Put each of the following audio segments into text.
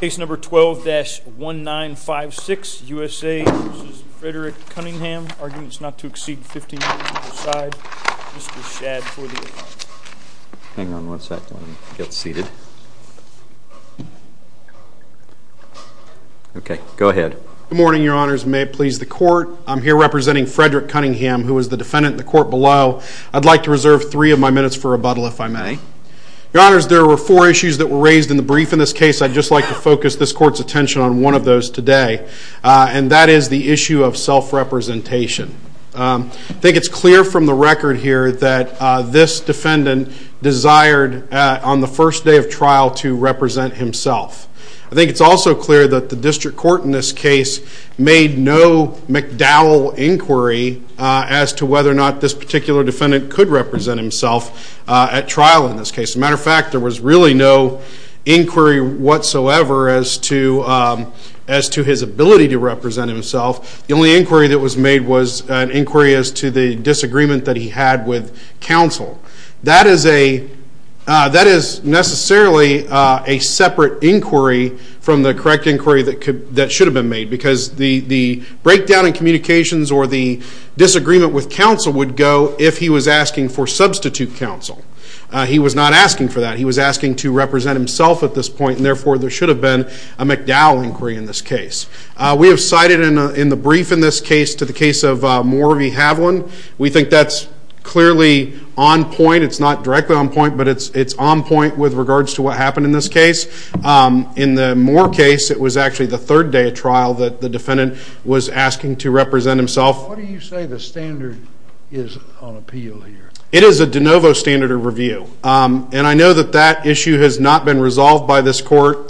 Case number 12-1956, U.S.A. v. Frederick Cunningham, argument is not to exceed 15 minutes, aside. Mr. Shad, for the affirmative. Hang on one second, let me get seated. Okay, go ahead. Good morning, your honors. May it please the court, I'm here representing Frederick Cunningham, who is the defendant in the court below. I'd like to reserve three of my minutes for rebuttal, if I may. Your honors, there were four issues that were raised in the brief in this case. I'd just like to focus this court's attention on one of those today. And that is the issue of self-representation. I think it's clear from the record here that this defendant desired, on the first day of trial, to represent himself. I think it's also clear that the district court in this case made no McDowell inquiry as to whether or not this particular defendant could represent himself at trial in this case. As a matter of fact, there was really no inquiry whatsoever as to his ability to represent himself. The only inquiry that was made was an inquiry as to the disagreement that he had with counsel. That is necessarily a separate inquiry from the correct inquiry that should have been made. Because the breakdown in communications or the disagreement with counsel would go if he was asking for substitute counsel. He was not asking for that. He was asking to represent himself at this point, and therefore there should have been a McDowell inquiry in this case. We have cited in the brief in this case to the case of Moore v. Haviland. We think that's clearly on point. It's not directly on point, but it's on point with regards to what happened in this case. In the Moore case, it was actually the third day of trial that the defendant was asking to represent himself. Why do you say the standard is on appeal here? It is a de novo standard of review. And I know that that issue has not been resolved by this court.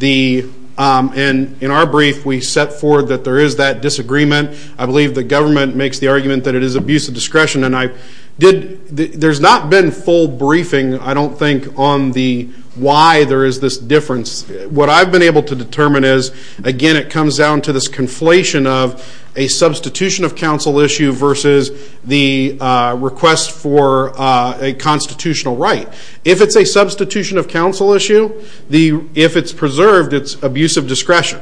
In our brief, we set forth that there is that disagreement. I believe the government makes the argument that it is abuse of discretion. There's not been full briefing, I don't think, on why there is this difference. What I've been able to determine is, again, it comes down to this conflation of a substitution of counsel issue versus the request for a constitutional right. If it's a substitution of counsel issue, if it's preserved, it's abuse of discretion.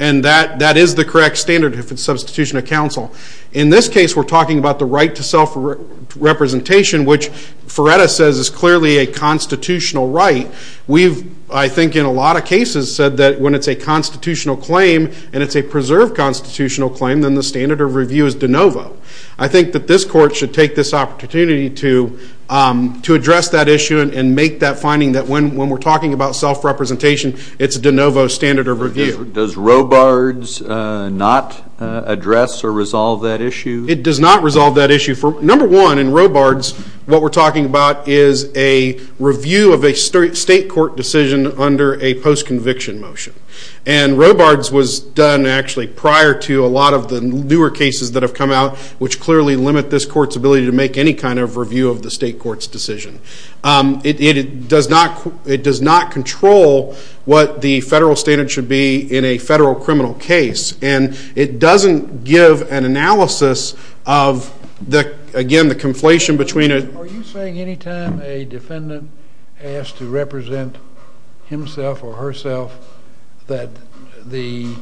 And that is the correct standard if it's substitution of counsel. In this case, we're talking about the right to self-representation, which Feretta says is clearly a constitutional right. We've, I think, in a lot of cases said that when it's a constitutional claim and it's a preserved constitutional claim, then the standard of review is de novo. I think that this court should take this opportunity to address that issue and make that finding that when we're talking about self-representation, it's a de novo standard of review. Does Robards not address or resolve that issue? It does not resolve that issue. Number one, in Robards, what we're talking about is a review of a state court decision under a post-conviction motion. And Robards was done, actually, prior to a lot of the newer cases that have come out, which clearly limit this court's ability to make any kind of review of the state court's decision. It does not control what the federal standard should be in a federal criminal case. And it doesn't give an analysis of, again, the conflation between a- that the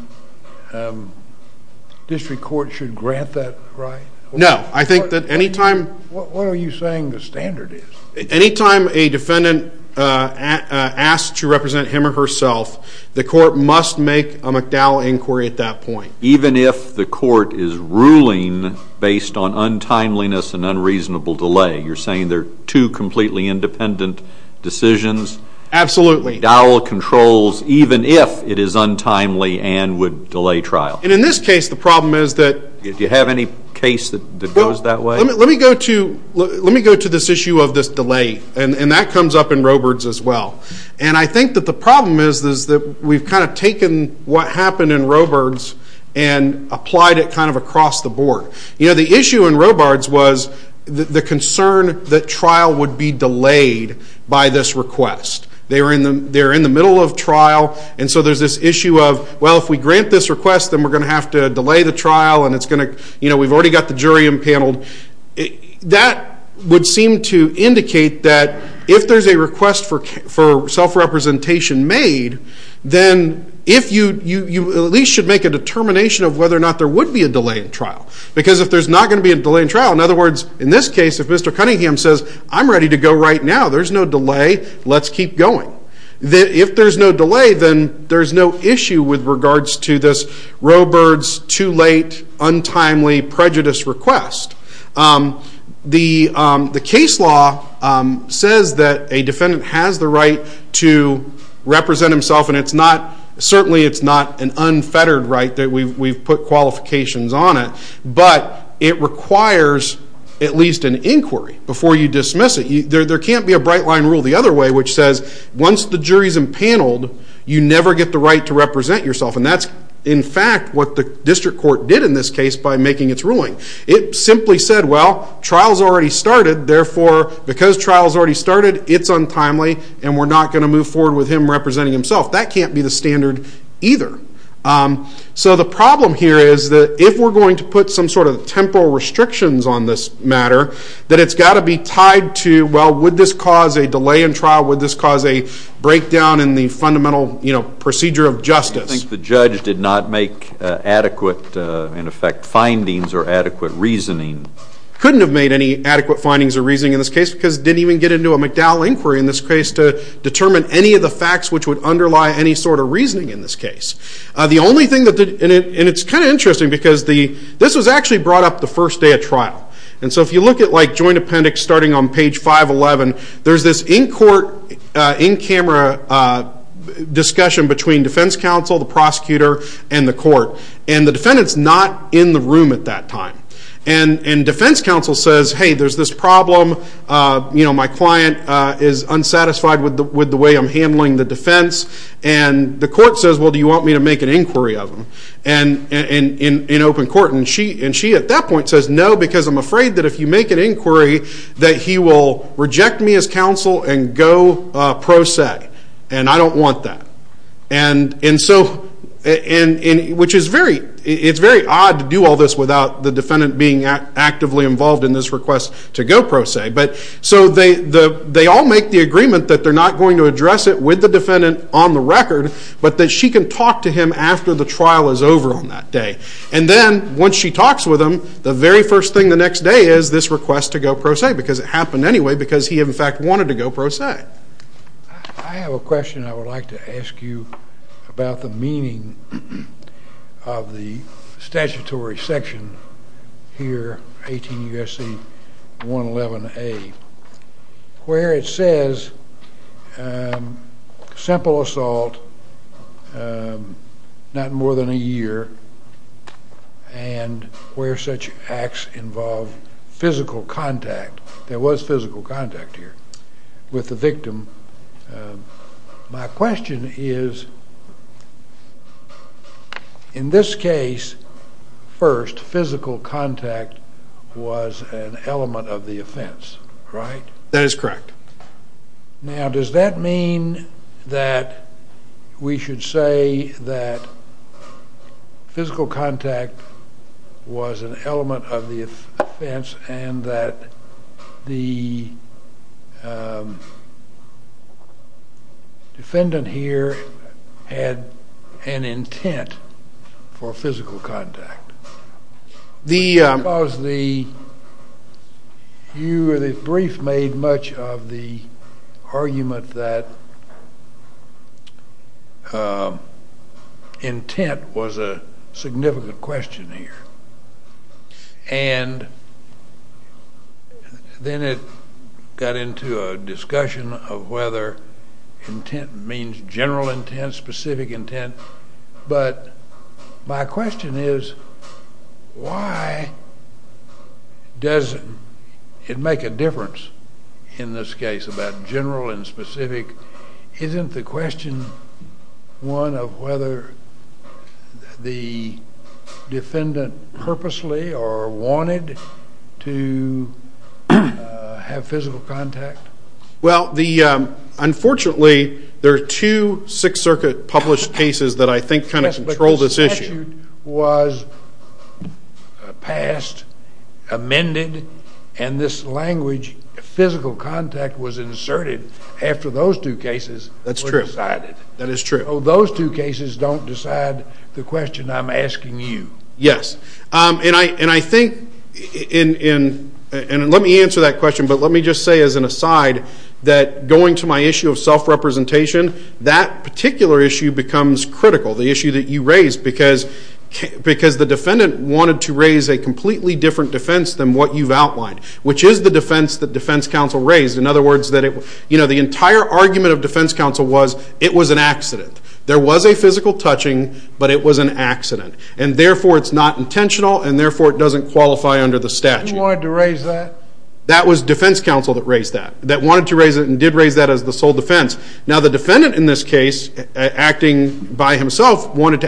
district court should grant that right? No, I think that any time- What are you saying the standard is? Any time a defendant asks to represent him or herself, the court must make a McDowell inquiry at that point. Even if the court is ruling based on untimeliness and unreasonable delay, you're saying they're two completely independent decisions? Absolutely. McDowell controls even if it is untimely and would delay trial? And in this case, the problem is that- Do you have any case that goes that way? Let me go to this issue of this delay, and that comes up in Robards as well. And I think that the problem is that we've kind of taken what happened in Robards and applied it kind of across the board. You know, the issue in Robards was the concern that trial would be delayed by this request. They're in the middle of trial, and so there's this issue of, well, if we grant this request, then we're going to have to delay the trial, and it's going to- you know, we've already got the jury impaneled. That would seem to indicate that if there's a request for self-representation made, then you at least should make a determination of whether or not there would be a delay in trial. Because if there's not going to be a delay in trial, in other words, in this case, if Mr. Cunningham says, I'm ready to go right now, there's no delay, let's keep going. If there's no delay, then there's no issue with regards to this Robards, too late, untimely, prejudice request. The case law says that a defendant has the right to represent himself, and it's not- certainly it's not an unfettered right that we've put qualifications on it, but it requires at least an inquiry before you dismiss it. There can't be a bright line rule the other way, which says once the jury's impaneled, you never get the right to represent yourself, and that's, in fact, what the district court did in this case by making its ruling. It simply said, well, trial's already started, therefore, because trial's already started, it's untimely, and we're not going to move forward with him representing himself. That can't be the standard either. So the problem here is that if we're going to put some sort of temporal restrictions on this matter, that it's got to be tied to, well, would this cause a delay in trial? Would this cause a breakdown in the fundamental procedure of justice? I think the judge did not make adequate, in effect, findings or adequate reasoning. Couldn't have made any adequate findings or reasoning in this case, because it didn't even get into a McDowell inquiry in this case to determine any of the facts which would underlie any sort of reasoning in this case. And it's kind of interesting, because this was actually brought up the first day of trial. And so if you look at joint appendix starting on page 511, there's this in-court, in-camera discussion between defense counsel, the prosecutor, and the court, and the defendant's not in the room at that time. And defense counsel says, hey, there's this problem. My client is unsatisfied with the way I'm handling the defense. And the court says, well, do you want me to make an inquiry of him in open court? And she at that point says, no, because I'm afraid that if you make an inquiry, that he will reject me as counsel and go pro se. And I don't want that. Which is very odd to do all this without the defendant being actively involved in this request to go pro se. So they all make the agreement that they're not going to address it with the defendant on the record, but that she can talk to him after the trial is over on that day. And then once she talks with him, the very first thing the next day is this request to go pro se, because it happened anyway, because he, in fact, wanted to go pro se. I have a question I would like to ask you about the meaning of the statutory section here, 18 U.S.C. 111A, where it says simple assault, not more than a year, and where such acts involve physical contact. There was physical contact here with the victim. My question is, in this case, first, physical contact was an element of the offense, right? That is correct. Now, does that mean that we should say that physical contact was an element of the offense and that the defendant here had an intent for physical contact? Because the brief made much of the argument that intent was a significant question here. And then it got into a discussion of whether intent means general intent, specific intent. But my question is, why does it make a difference in this case about general and specific? Isn't the question one of whether the defendant purposely or wanted to have physical contact? Well, unfortunately, there are two Sixth Circuit published cases that I think kind of control this issue. Yes, but the statute was passed, amended, and this language, physical contact, was inserted after those two cases were decided. That's true. That is true. So those two cases don't decide the question I'm asking you. Yes, and I think, and let me answer that question, but let me just say as an aside that going to my issue of self-representation, that particular issue becomes critical, the issue that you raised, because the defendant wanted to raise a completely different defense than what you've outlined, which is the defense that defense counsel raised. In other words, the entire argument of defense counsel was it was an accident. There was a physical touching, but it was an accident. And therefore, it's not intentional, and therefore, it doesn't qualify under the statute. Who wanted to raise that? That was defense counsel that raised that, that wanted to raise it and did raise that as the sole defense. Now, the defendant in this case, acting by himself, wanted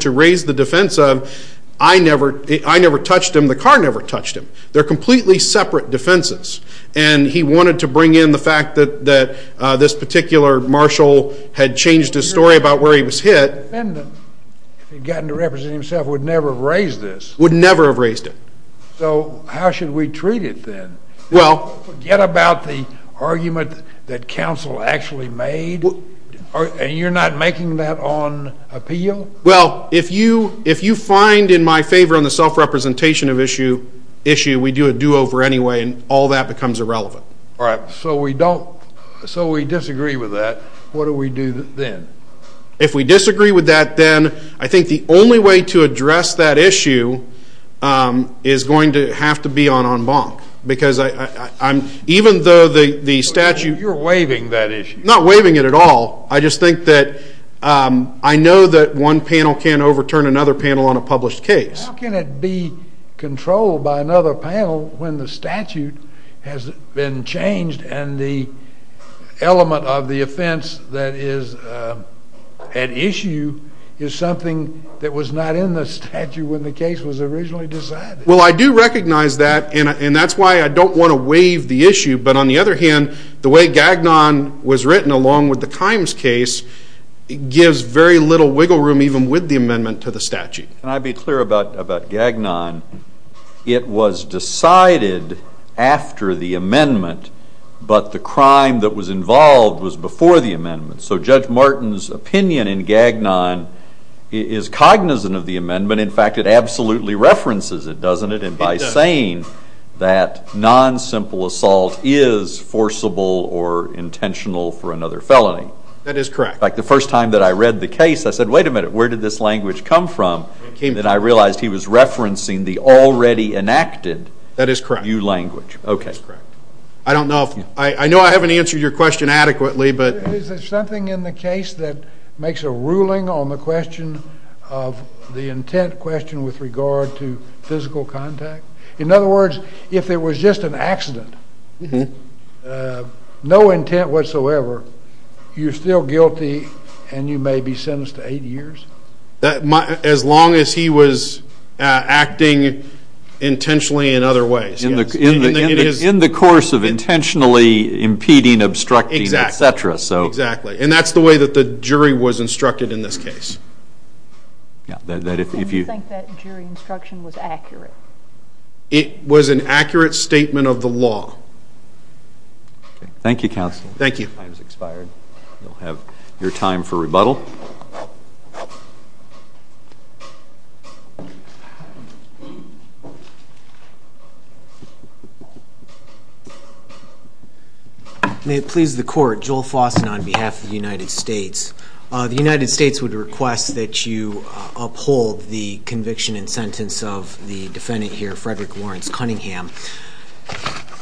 to raise the defense of I never touched him. The car never touched him. They're completely separate defenses, and he wanted to bring in the fact that this particular marshal had changed his story about where he was hit. The defendant, if he'd gotten to represent himself, would never have raised this. Would never have raised it. So how should we treat it then? Forget about the argument that counsel actually made, and you're not making that on appeal? Well, if you find in my favor on the self-representation issue, we do a do-over anyway, and all that becomes irrelevant. All right. So we disagree with that. What do we do then? If we disagree with that, then I think the only way to address that issue is going to have to be on en banc because even though the statute You're waiving that issue. I'm not waiving it at all. I just think that I know that one panel can't overturn another panel on a published case. How can it be controlled by another panel when the statute has been changed, and the element of the offense that is at issue is something that was not in the statute when the case was originally decided? Well, I do recognize that, and that's why I don't want to waive the issue. But on the other hand, the way Gagnon was written along with the Kimes case gives very little wiggle room even with the amendment to the statute. Can I be clear about Gagnon? It was decided after the amendment, but the crime that was involved was before the amendment. So Judge Martin's opinion in Gagnon is cognizant of the amendment. In fact, it absolutely references it, doesn't it? It does. And by saying that non-simple assault is forcible or intentional for another felony. That is correct. In fact, the first time that I read the case, I said, wait a minute, where did this language come from? And then I realized he was referencing the already enacted view language. That is correct. Okay. I don't know. I know I haven't answered your question adequately, but... Is there something in the case that makes a ruling on the question of the intent question with regard to physical contact? In other words, if it was just an accident, no intent whatsoever, you're still guilty and you may be sentenced to eight years? As long as he was acting intentionally in other ways. In the course of intentionally impeding, obstructing, et cetera. Exactly. And that's the way that the jury was instructed in this case. Do you think that jury instruction was accurate? It was an accurate statement of the law. Okay. Thank you, Counsel. Thank you. Your time has expired. You'll have your time for rebuttal. May it please the Court. Joel Fossen on behalf of the United States. The United States would request that you uphold the conviction and sentence of the defendant here, Frederick Lawrence Cunningham.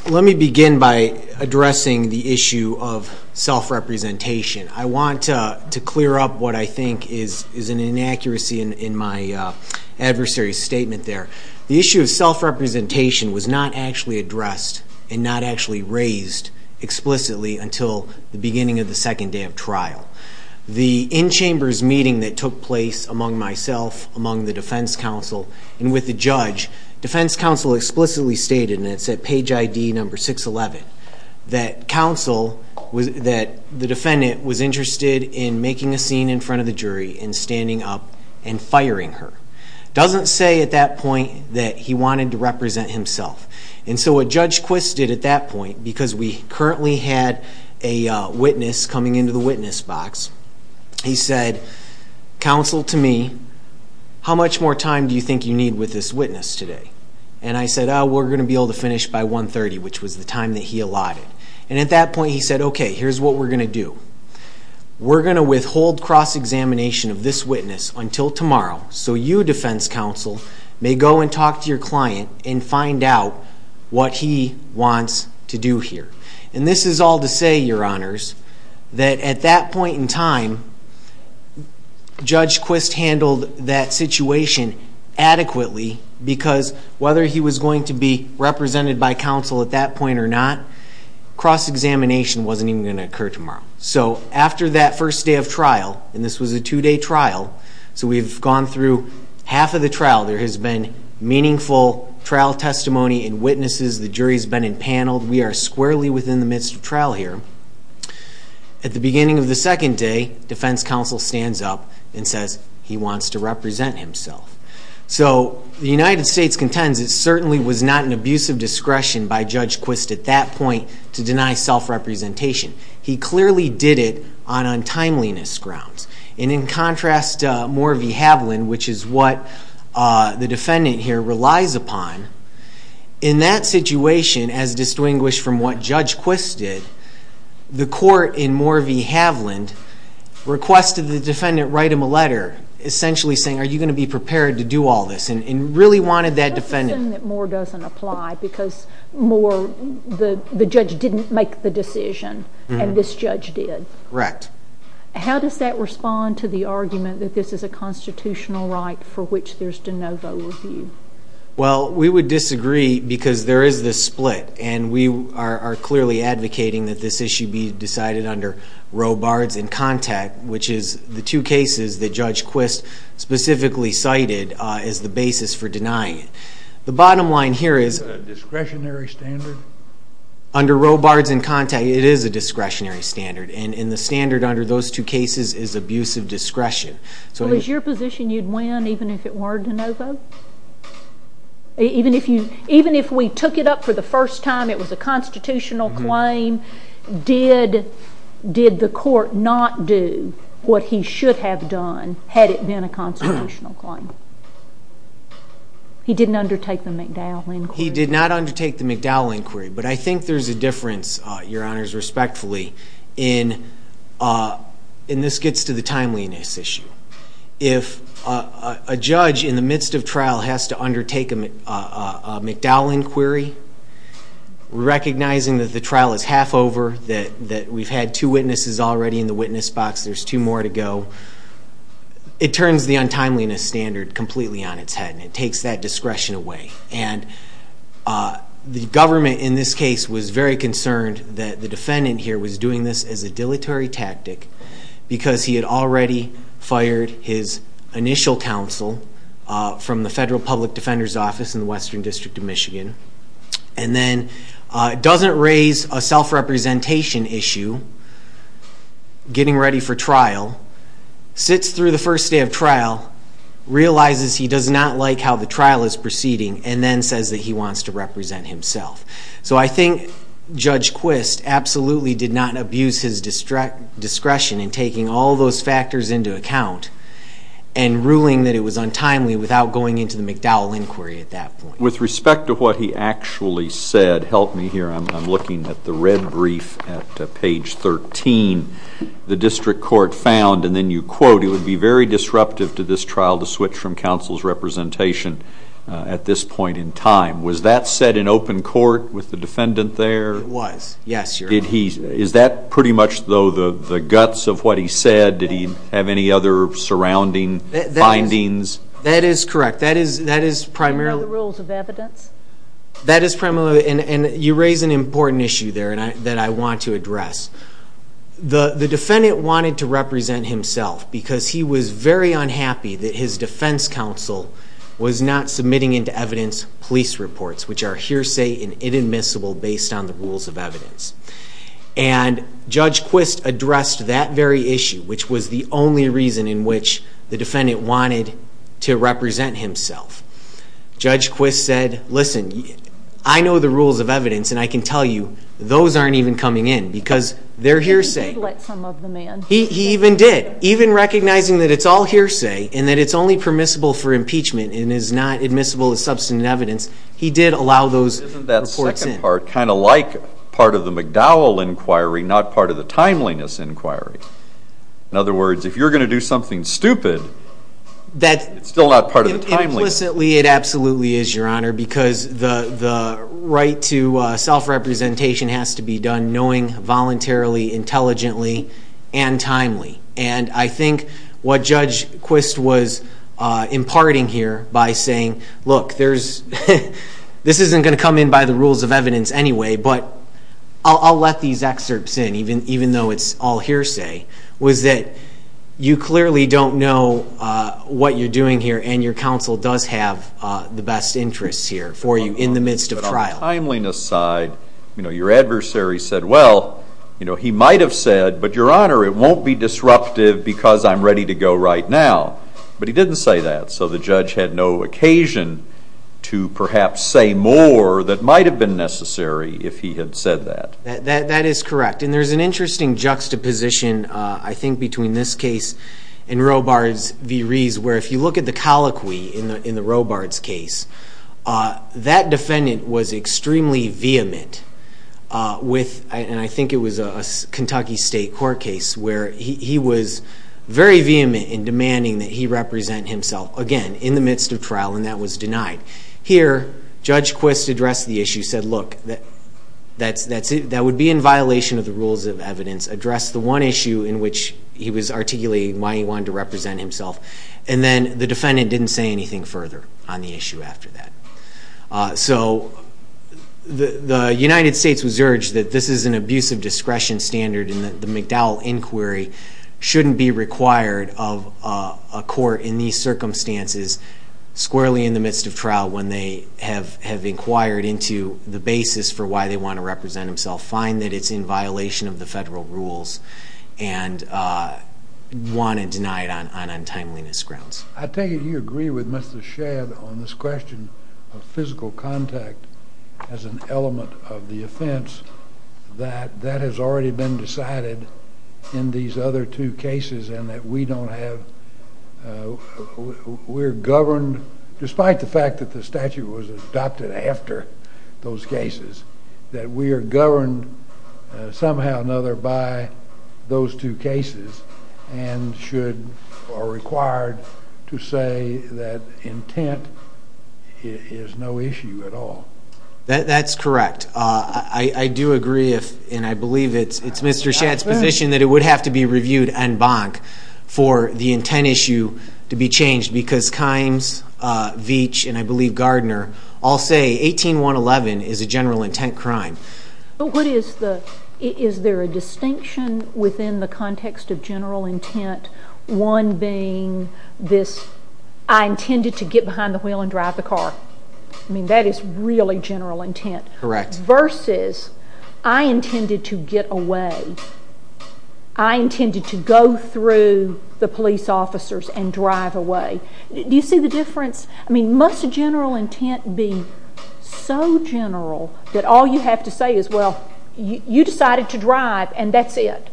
Let me begin by addressing the issue of self-representation. I want to clear up what I think is an inaccuracy in my adversary's statement there. The issue of self-representation was not actually addressed and not actually raised explicitly until the beginning of the second day of trial. The in-chambers meeting that took place among myself, among the defense counsel, and with the judge, defense counsel explicitly stated, and it's at page ID number 611, that the defendant was interested in making a scene in front of the jury and standing up and firing her. It doesn't say at that point that he wanted to represent himself. And so what Judge Quist did at that point, because we currently had a witness coming into the witness box, he said, counsel to me, how much more time do you think you need with this witness today? And I said, oh, we're going to be able to finish by 1.30, which was the time that he allotted. And at that point he said, okay, here's what we're going to do. We're going to withhold cross-examination of this witness until tomorrow so you, defense counsel, may go and talk to your client and find out what he wants to do here. And this is all to say, your honors, that at that point in time, Judge Quist handled that situation adequately because whether he was going to be represented by counsel at that point or not, cross-examination wasn't even going to occur tomorrow. So after that first day of trial, and this was a two-day trial, so we've gone through half of the trial. There has been meaningful trial testimony and witnesses. The jury has been empaneled. We are squarely within the midst of trial here. At the beginning of the second day, defense counsel stands up and says he wants to represent himself. So the United States contends it certainly was not an abuse of discretion by Judge Quist at that point to deny self-representation. He clearly did it on untimeliness grounds. And in contrast to Moore v. Haviland, which is what the defendant here relies upon, in that situation, as distinguished from what Judge Quist did, the court in Moore v. Haviland requested the defendant write him a letter essentially saying, are you going to be prepared to do all this, and really wanted that defendant. There's a reason that Moore doesn't apply, because Moore, the judge didn't make the decision, and this judge did. Correct. How does that respond to the argument that this is a constitutional right for which there's de novo review? Well, we would disagree because there is this split, and we are clearly advocating that this issue be decided under Roe, Bards, and Contact, which is the two cases that Judge Quist specifically cited as the basis for denying it. The bottom line here is under Roe, Bards, and Contact, it is a discretionary standard, and the standard under those two cases is abuse of discretion. Well, is your position you'd win even if it were de novo? Even if we took it up for the first time, it was a constitutional claim, did the court not do what he should have done had it been a constitutional claim? He didn't undertake the McDowell inquiry. He did not undertake the McDowell inquiry, but I think there's a difference, Your Honors, respectfully, and this gets to the timeliness issue. If a judge in the midst of trial has to undertake a McDowell inquiry, recognizing that the trial is half over, that we've had two witnesses already in the witness box, there's two more to go, it turns the untimeliness standard completely on its head, and it takes that discretion away. And the government in this case was very concerned that the defendant here was doing this as a dilatory tactic because he had already fired his initial counsel from the Federal Public Defender's Office in the Western District of Michigan, and then doesn't raise a self-representation issue, getting ready for trial, sits through the first day of trial, realizes he does not like how the trial is proceeding, and then says that he wants to represent himself. So I think Judge Quist absolutely did not abuse his discretion in taking all those factors into account and ruling that it was untimely without going into the McDowell inquiry at that point. With respect to what he actually said, help me here, I'm looking at the red brief at page 13. The district court found, and then you quote, it would be very disruptive to this trial to switch from counsel's representation at this point in time. Was that said in open court with the defendant there? It was, yes, Your Honor. Is that pretty much, though, the guts of what he said? Did he have any other surrounding findings? That is correct. Under the rules of evidence? That is primarily, and you raise an important issue there that I want to address. The defendant wanted to represent himself because he was very unhappy that his defense counsel was not submitting into evidence police reports, which are hearsay and inadmissible based on the rules of evidence. And Judge Quist addressed that very issue, which was the only reason in which the defendant wanted to represent himself. Judge Quist said, listen, I know the rules of evidence, and I can tell you those aren't even coming in because they're hearsay. He did let some of them in. He even did. And that it's only permissible for impeachment and is not admissible as substantive evidence, he did allow those reports in. Isn't that second part kind of like part of the McDowell inquiry, not part of the timeliness inquiry? In other words, if you're going to do something stupid, it's still not part of the timeliness inquiry. Implicitly, it absolutely is, Your Honor, because the right to self-representation has to be done knowing, voluntarily, intelligently, and timely. And I think what Judge Quist was imparting here by saying, look, this isn't going to come in by the rules of evidence anyway, but I'll let these excerpts in even though it's all hearsay, was that you clearly don't know what you're doing here, and your counsel does have the best interests here for you in the midst of trial. But on the timeliness side, your adversary said, well, he might have said, but, Your Honor, it won't be disruptive because I'm ready to go right now. But he didn't say that, so the judge had no occasion to perhaps say more that might have been necessary if he had said that. That is correct. And there's an interesting juxtaposition, I think, between this case and Robards v. Rees, where if you look at the colloquy in the Robards case, that defendant was extremely vehement with, and I think it was a Kentucky State court case, where he was very vehement in demanding that he represent himself, again, in the midst of trial, and that was denied. Here, Judge Quist addressed the issue, said, look, that would be in violation of the rules of evidence, addressed the one issue in which he was articulating why he wanted to represent himself, and then the defendant didn't say anything further on the issue after that. So the United States was urged that this is an abuse of discretion standard and that the McDowell inquiry shouldn't be required of a court in these circumstances, squarely in the midst of trial, when they have inquired into the basis for why they want to represent themselves, find that it's in violation of the federal rules, and want to deny it on untimeliness grounds. I take it you agree with Mr. Shadd on this question of physical contact as an element of the offense, that that has already been decided in these other two cases and that we don't have, we're governed, despite the fact that the statute was adopted after those cases, that we are governed somehow or another by those two cases and should or are required to say that intent is no issue at all. That's correct. I do agree, and I believe it's Mr. Shadd's position that it would have to be reviewed en banc for the intent issue to be changed because Kimes, Veach, and I believe Gardner all say 18111 is a general intent crime. But what is the, is there a distinction within the context of general intent, one being this, I intended to get behind the wheel and drive the car. I mean, that is really general intent. Correct. Versus, I intended to get away. I intended to go through the police officers and drive away. Do you see the difference? I mean, must general intent be so general that all you have to say is, well, you decided to drive and that's it,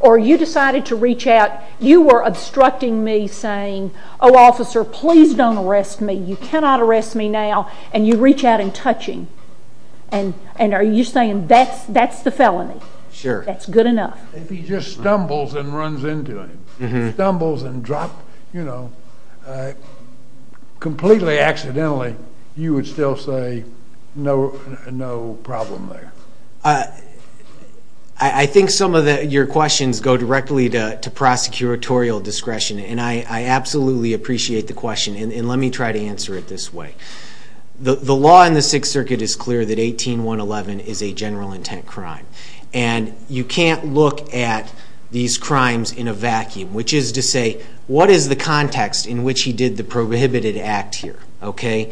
or you decided to reach out, you were obstructing me saying, oh, officer, please don't arrest me, you cannot arrest me now, and you reach out in touching. And are you saying that's the felony? Sure. That's good enough. If he just stumbles and runs into him, stumbles and drops, you know, completely accidentally, you would still say no problem there. I think some of your questions go directly to prosecutorial discretion, and I absolutely appreciate the question, and let me try to answer it this way. The law in the Sixth Circuit is clear that 18111 is a general intent crime, and you can't look at these crimes in a vacuum, which is to say, what is the context in which he did the prohibited act here, okay?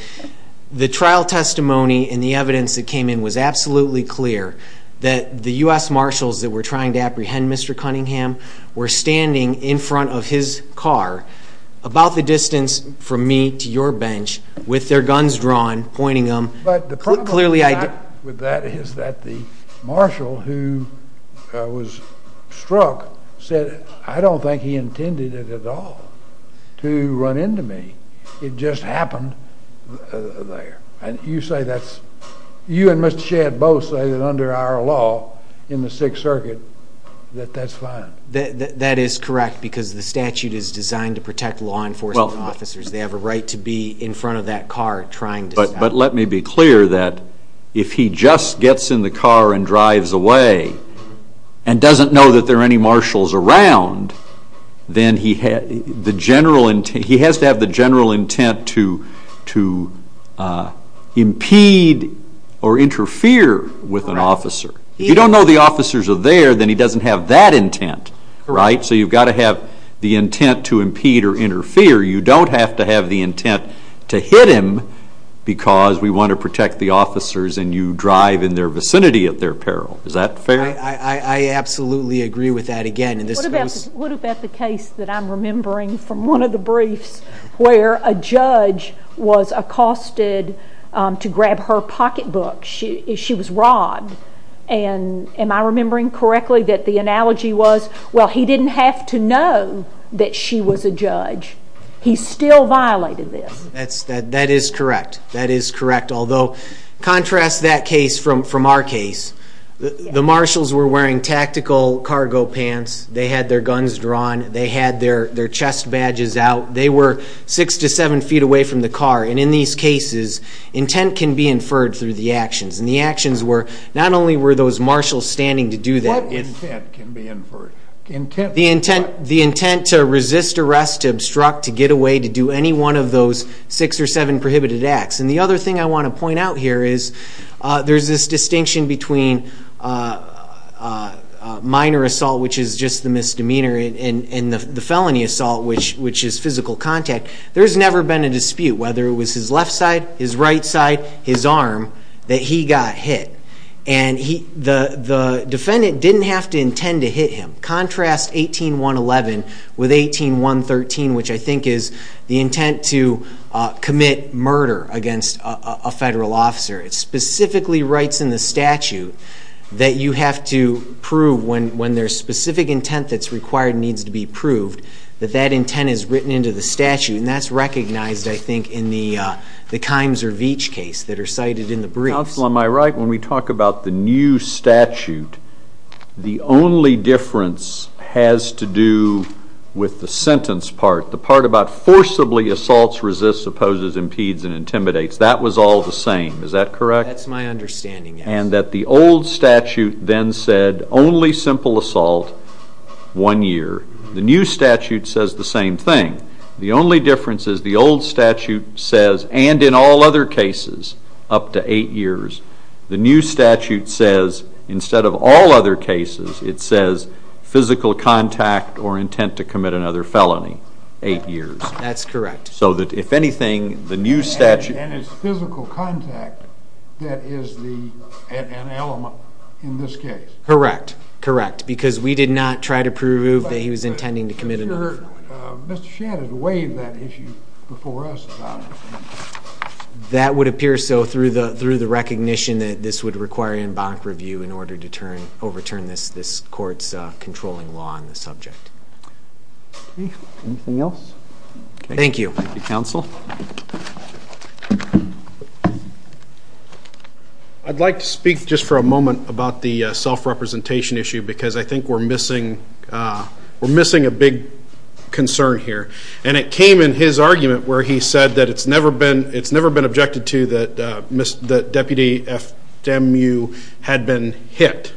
The trial testimony and the evidence that came in was absolutely clear that the U.S. Marshals that were trying to apprehend Mr. Cunningham were standing in front of his car about the distance from me to your bench with their guns drawn, pointing them. But the problem with that is that the Marshal who was struck said, I don't think he intended it at all to run into me. It just happened there. You and Mr. Shadd both say that under our law in the Sixth Circuit that that's fine. That is correct because the statute is designed to protect law enforcement officers. They have a right to be in front of that car trying to stop them. But let me be clear that if he just gets in the car and drives away and doesn't know that there are any Marshals around, then he has to have the general intent to impede or interfere with an officer. If you don't know the officers are there, then he doesn't have that intent, right? So you've got to have the intent to impede or interfere. You don't have to have the intent to hit him because we want to protect the officers and you drive in their vicinity at their peril. Is that fair? I absolutely agree with that again. What about the case that I'm remembering from one of the briefs where a judge was accosted to grab her pocketbook. She was robbed. Am I remembering correctly that the analogy was, well, he didn't have to know that she was a judge. He still violated this. That is correct. Although contrast that case from our case. The Marshals were wearing tactical cargo pants. They had their guns drawn. They had their chest badges out. They were six to seven feet away from the car. And in these cases, intent can be inferred through the actions. And the actions were not only were those Marshals standing to do that. What intent can be inferred? The intent to resist arrest, to obstruct, to get away, to do any one of those six or seven prohibited acts. And the other thing I want to point out here is there's this distinction between minor assault, which is just the misdemeanor, and the felony assault, which is physical contact. There's never been a dispute whether it was his left side, his right side, his arm that he got hit. And the defendant didn't have to intend to hit him. Contrast 18111 with 18113, which I think is the intent to commit murder against a federal officer. It specifically writes in the statute that you have to prove, when there's specific intent that's required and needs to be proved, that that intent is written into the statute. And that's recognized, I think, in the Kimes or Veatch case that are cited in the briefs. Counsel, am I right when we talk about the new statute, the only difference has to do with the sentence part, the part about forcibly assaults, resists, opposes, impedes, and intimidates. That was all the same. Is that correct? That's my understanding, yes. And that the old statute then said only simple assault, one year. The new statute says the same thing. The only difference is the old statute says, and in all other cases, up to eight years. The new statute says, instead of all other cases, it says physical contact or intent to commit another felony, eight years. That's correct. So that, if anything, the new statute... And it's physical contact that is an element in this case. Correct. Correct. Because we did not try to prove that he was intending to commit another felony. Mr. Shad has waived that issue before us. That would appear so through the recognition that this would require an embankment review in order to overturn this court's controlling law on the subject. Anything else? Thank you. Counsel? I'd like to speak just for a moment about the self-representation issue because I think we're missing a big concern here. And it came in his argument where he said that it's never been objected to that Deputy F. Demmew had been hit.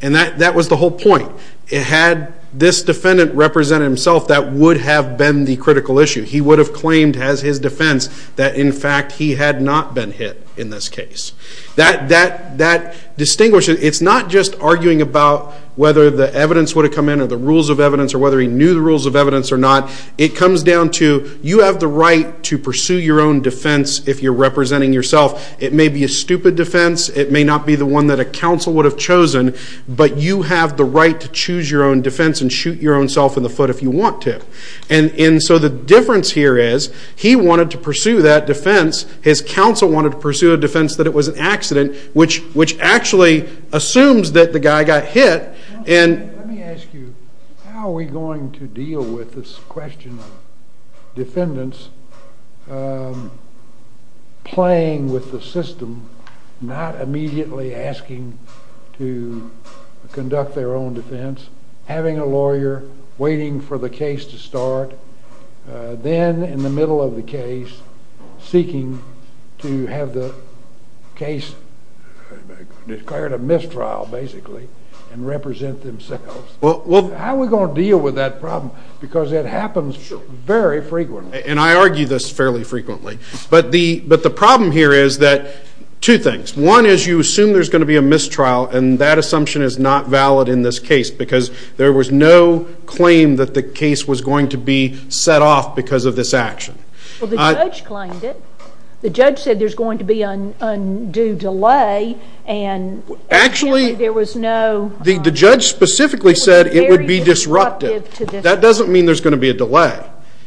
And that was the whole point. Had this defendant represented himself, that would have been the critical issue. He would have claimed as his defense that, in fact, he had not been hit in this case. That distinguishes... It's not just arguing about whether the evidence would have come in or the rules of evidence or whether he knew the rules of evidence or not. It comes down to you have the right to pursue your own defense if you're representing yourself. It may be a stupid defense. It may not be the one that a counsel would have chosen. But you have the right to choose your own defense and shoot yourself in the foot if you want to. And so the difference here is he wanted to pursue that defense. His counsel wanted to pursue a defense that it was an accident, which actually assumes that the guy got hit. Let me ask you, how are we going to deal with this question of defendants playing with the system, not immediately asking to conduct their own defense, having a lawyer, waiting for the case to start, then in the middle of the case seeking to have the case declared a mistrial, basically, and represent themselves? How are we going to deal with that problem? Because it happens very frequently. And I argue this fairly frequently. But the problem here is that two things. One is you assume there's going to be a mistrial, and that assumption is not valid in this case because there was no claim that the case was going to be set off because of this action. Well, the judge claimed it. The judge said there's going to be an undue delay. Actually, the judge specifically said it would be disruptive. That doesn't mean there's going to be a delay.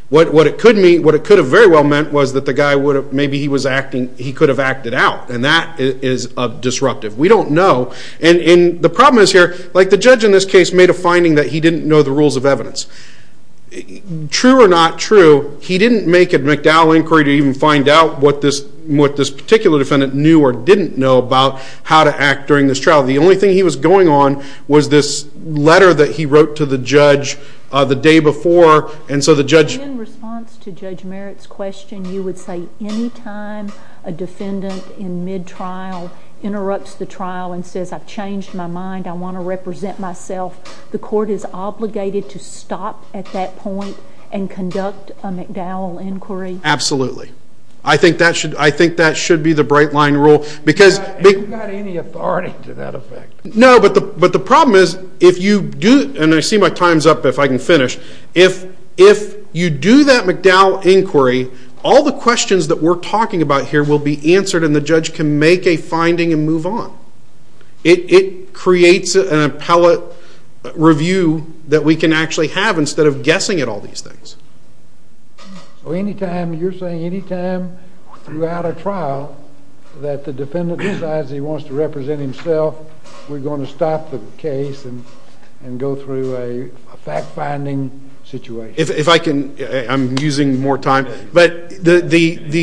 What it could have very well meant was that the guy, maybe he could have acted out, and that is disruptive. We don't know. And the problem is here, like the judge in this case made a finding that he didn't know the rules of evidence. True or not true, he didn't make a McDowell inquiry to even find out what this particular defendant knew or didn't know about how to act during this trial. The only thing he was going on was this letter that he wrote to the judge the day before. In response to Judge Merritt's question, you would say any time a defendant in mid-trial interrupts the trial and says, I've changed my mind, I want to represent myself, the court is obligated to stop at that point and conduct a McDowell inquiry? Absolutely. I think that should be the bright line rule. Have you got any authority to that effect? No, but the problem is if you do, and I see my time's up if I can finish, if you do that McDowell inquiry, all the questions that we're talking about here will be answered and the judge can make a finding and move on. It creates an appellate review that we can actually have instead of guessing at all these things. So you're saying any time throughout a trial that the defendant decides he wants to represent himself, we're going to stop the case and go through a fact-finding situation? If I can, I'm using more time, but the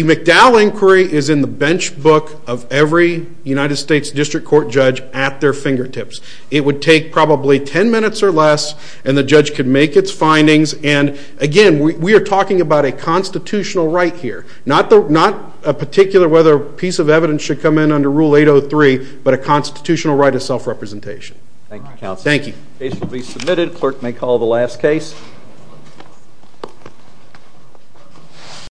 McDowell inquiry is in the bench book of every United States District Court judge at their fingertips. It would take probably ten minutes or less and the judge could make its findings and, again, we are talking about a constitutional right here, not a particular whether a piece of evidence should come in under Rule 803, but a constitutional right of self-representation. Thank you, counsel. Case will be submitted. Clerk may call the last case.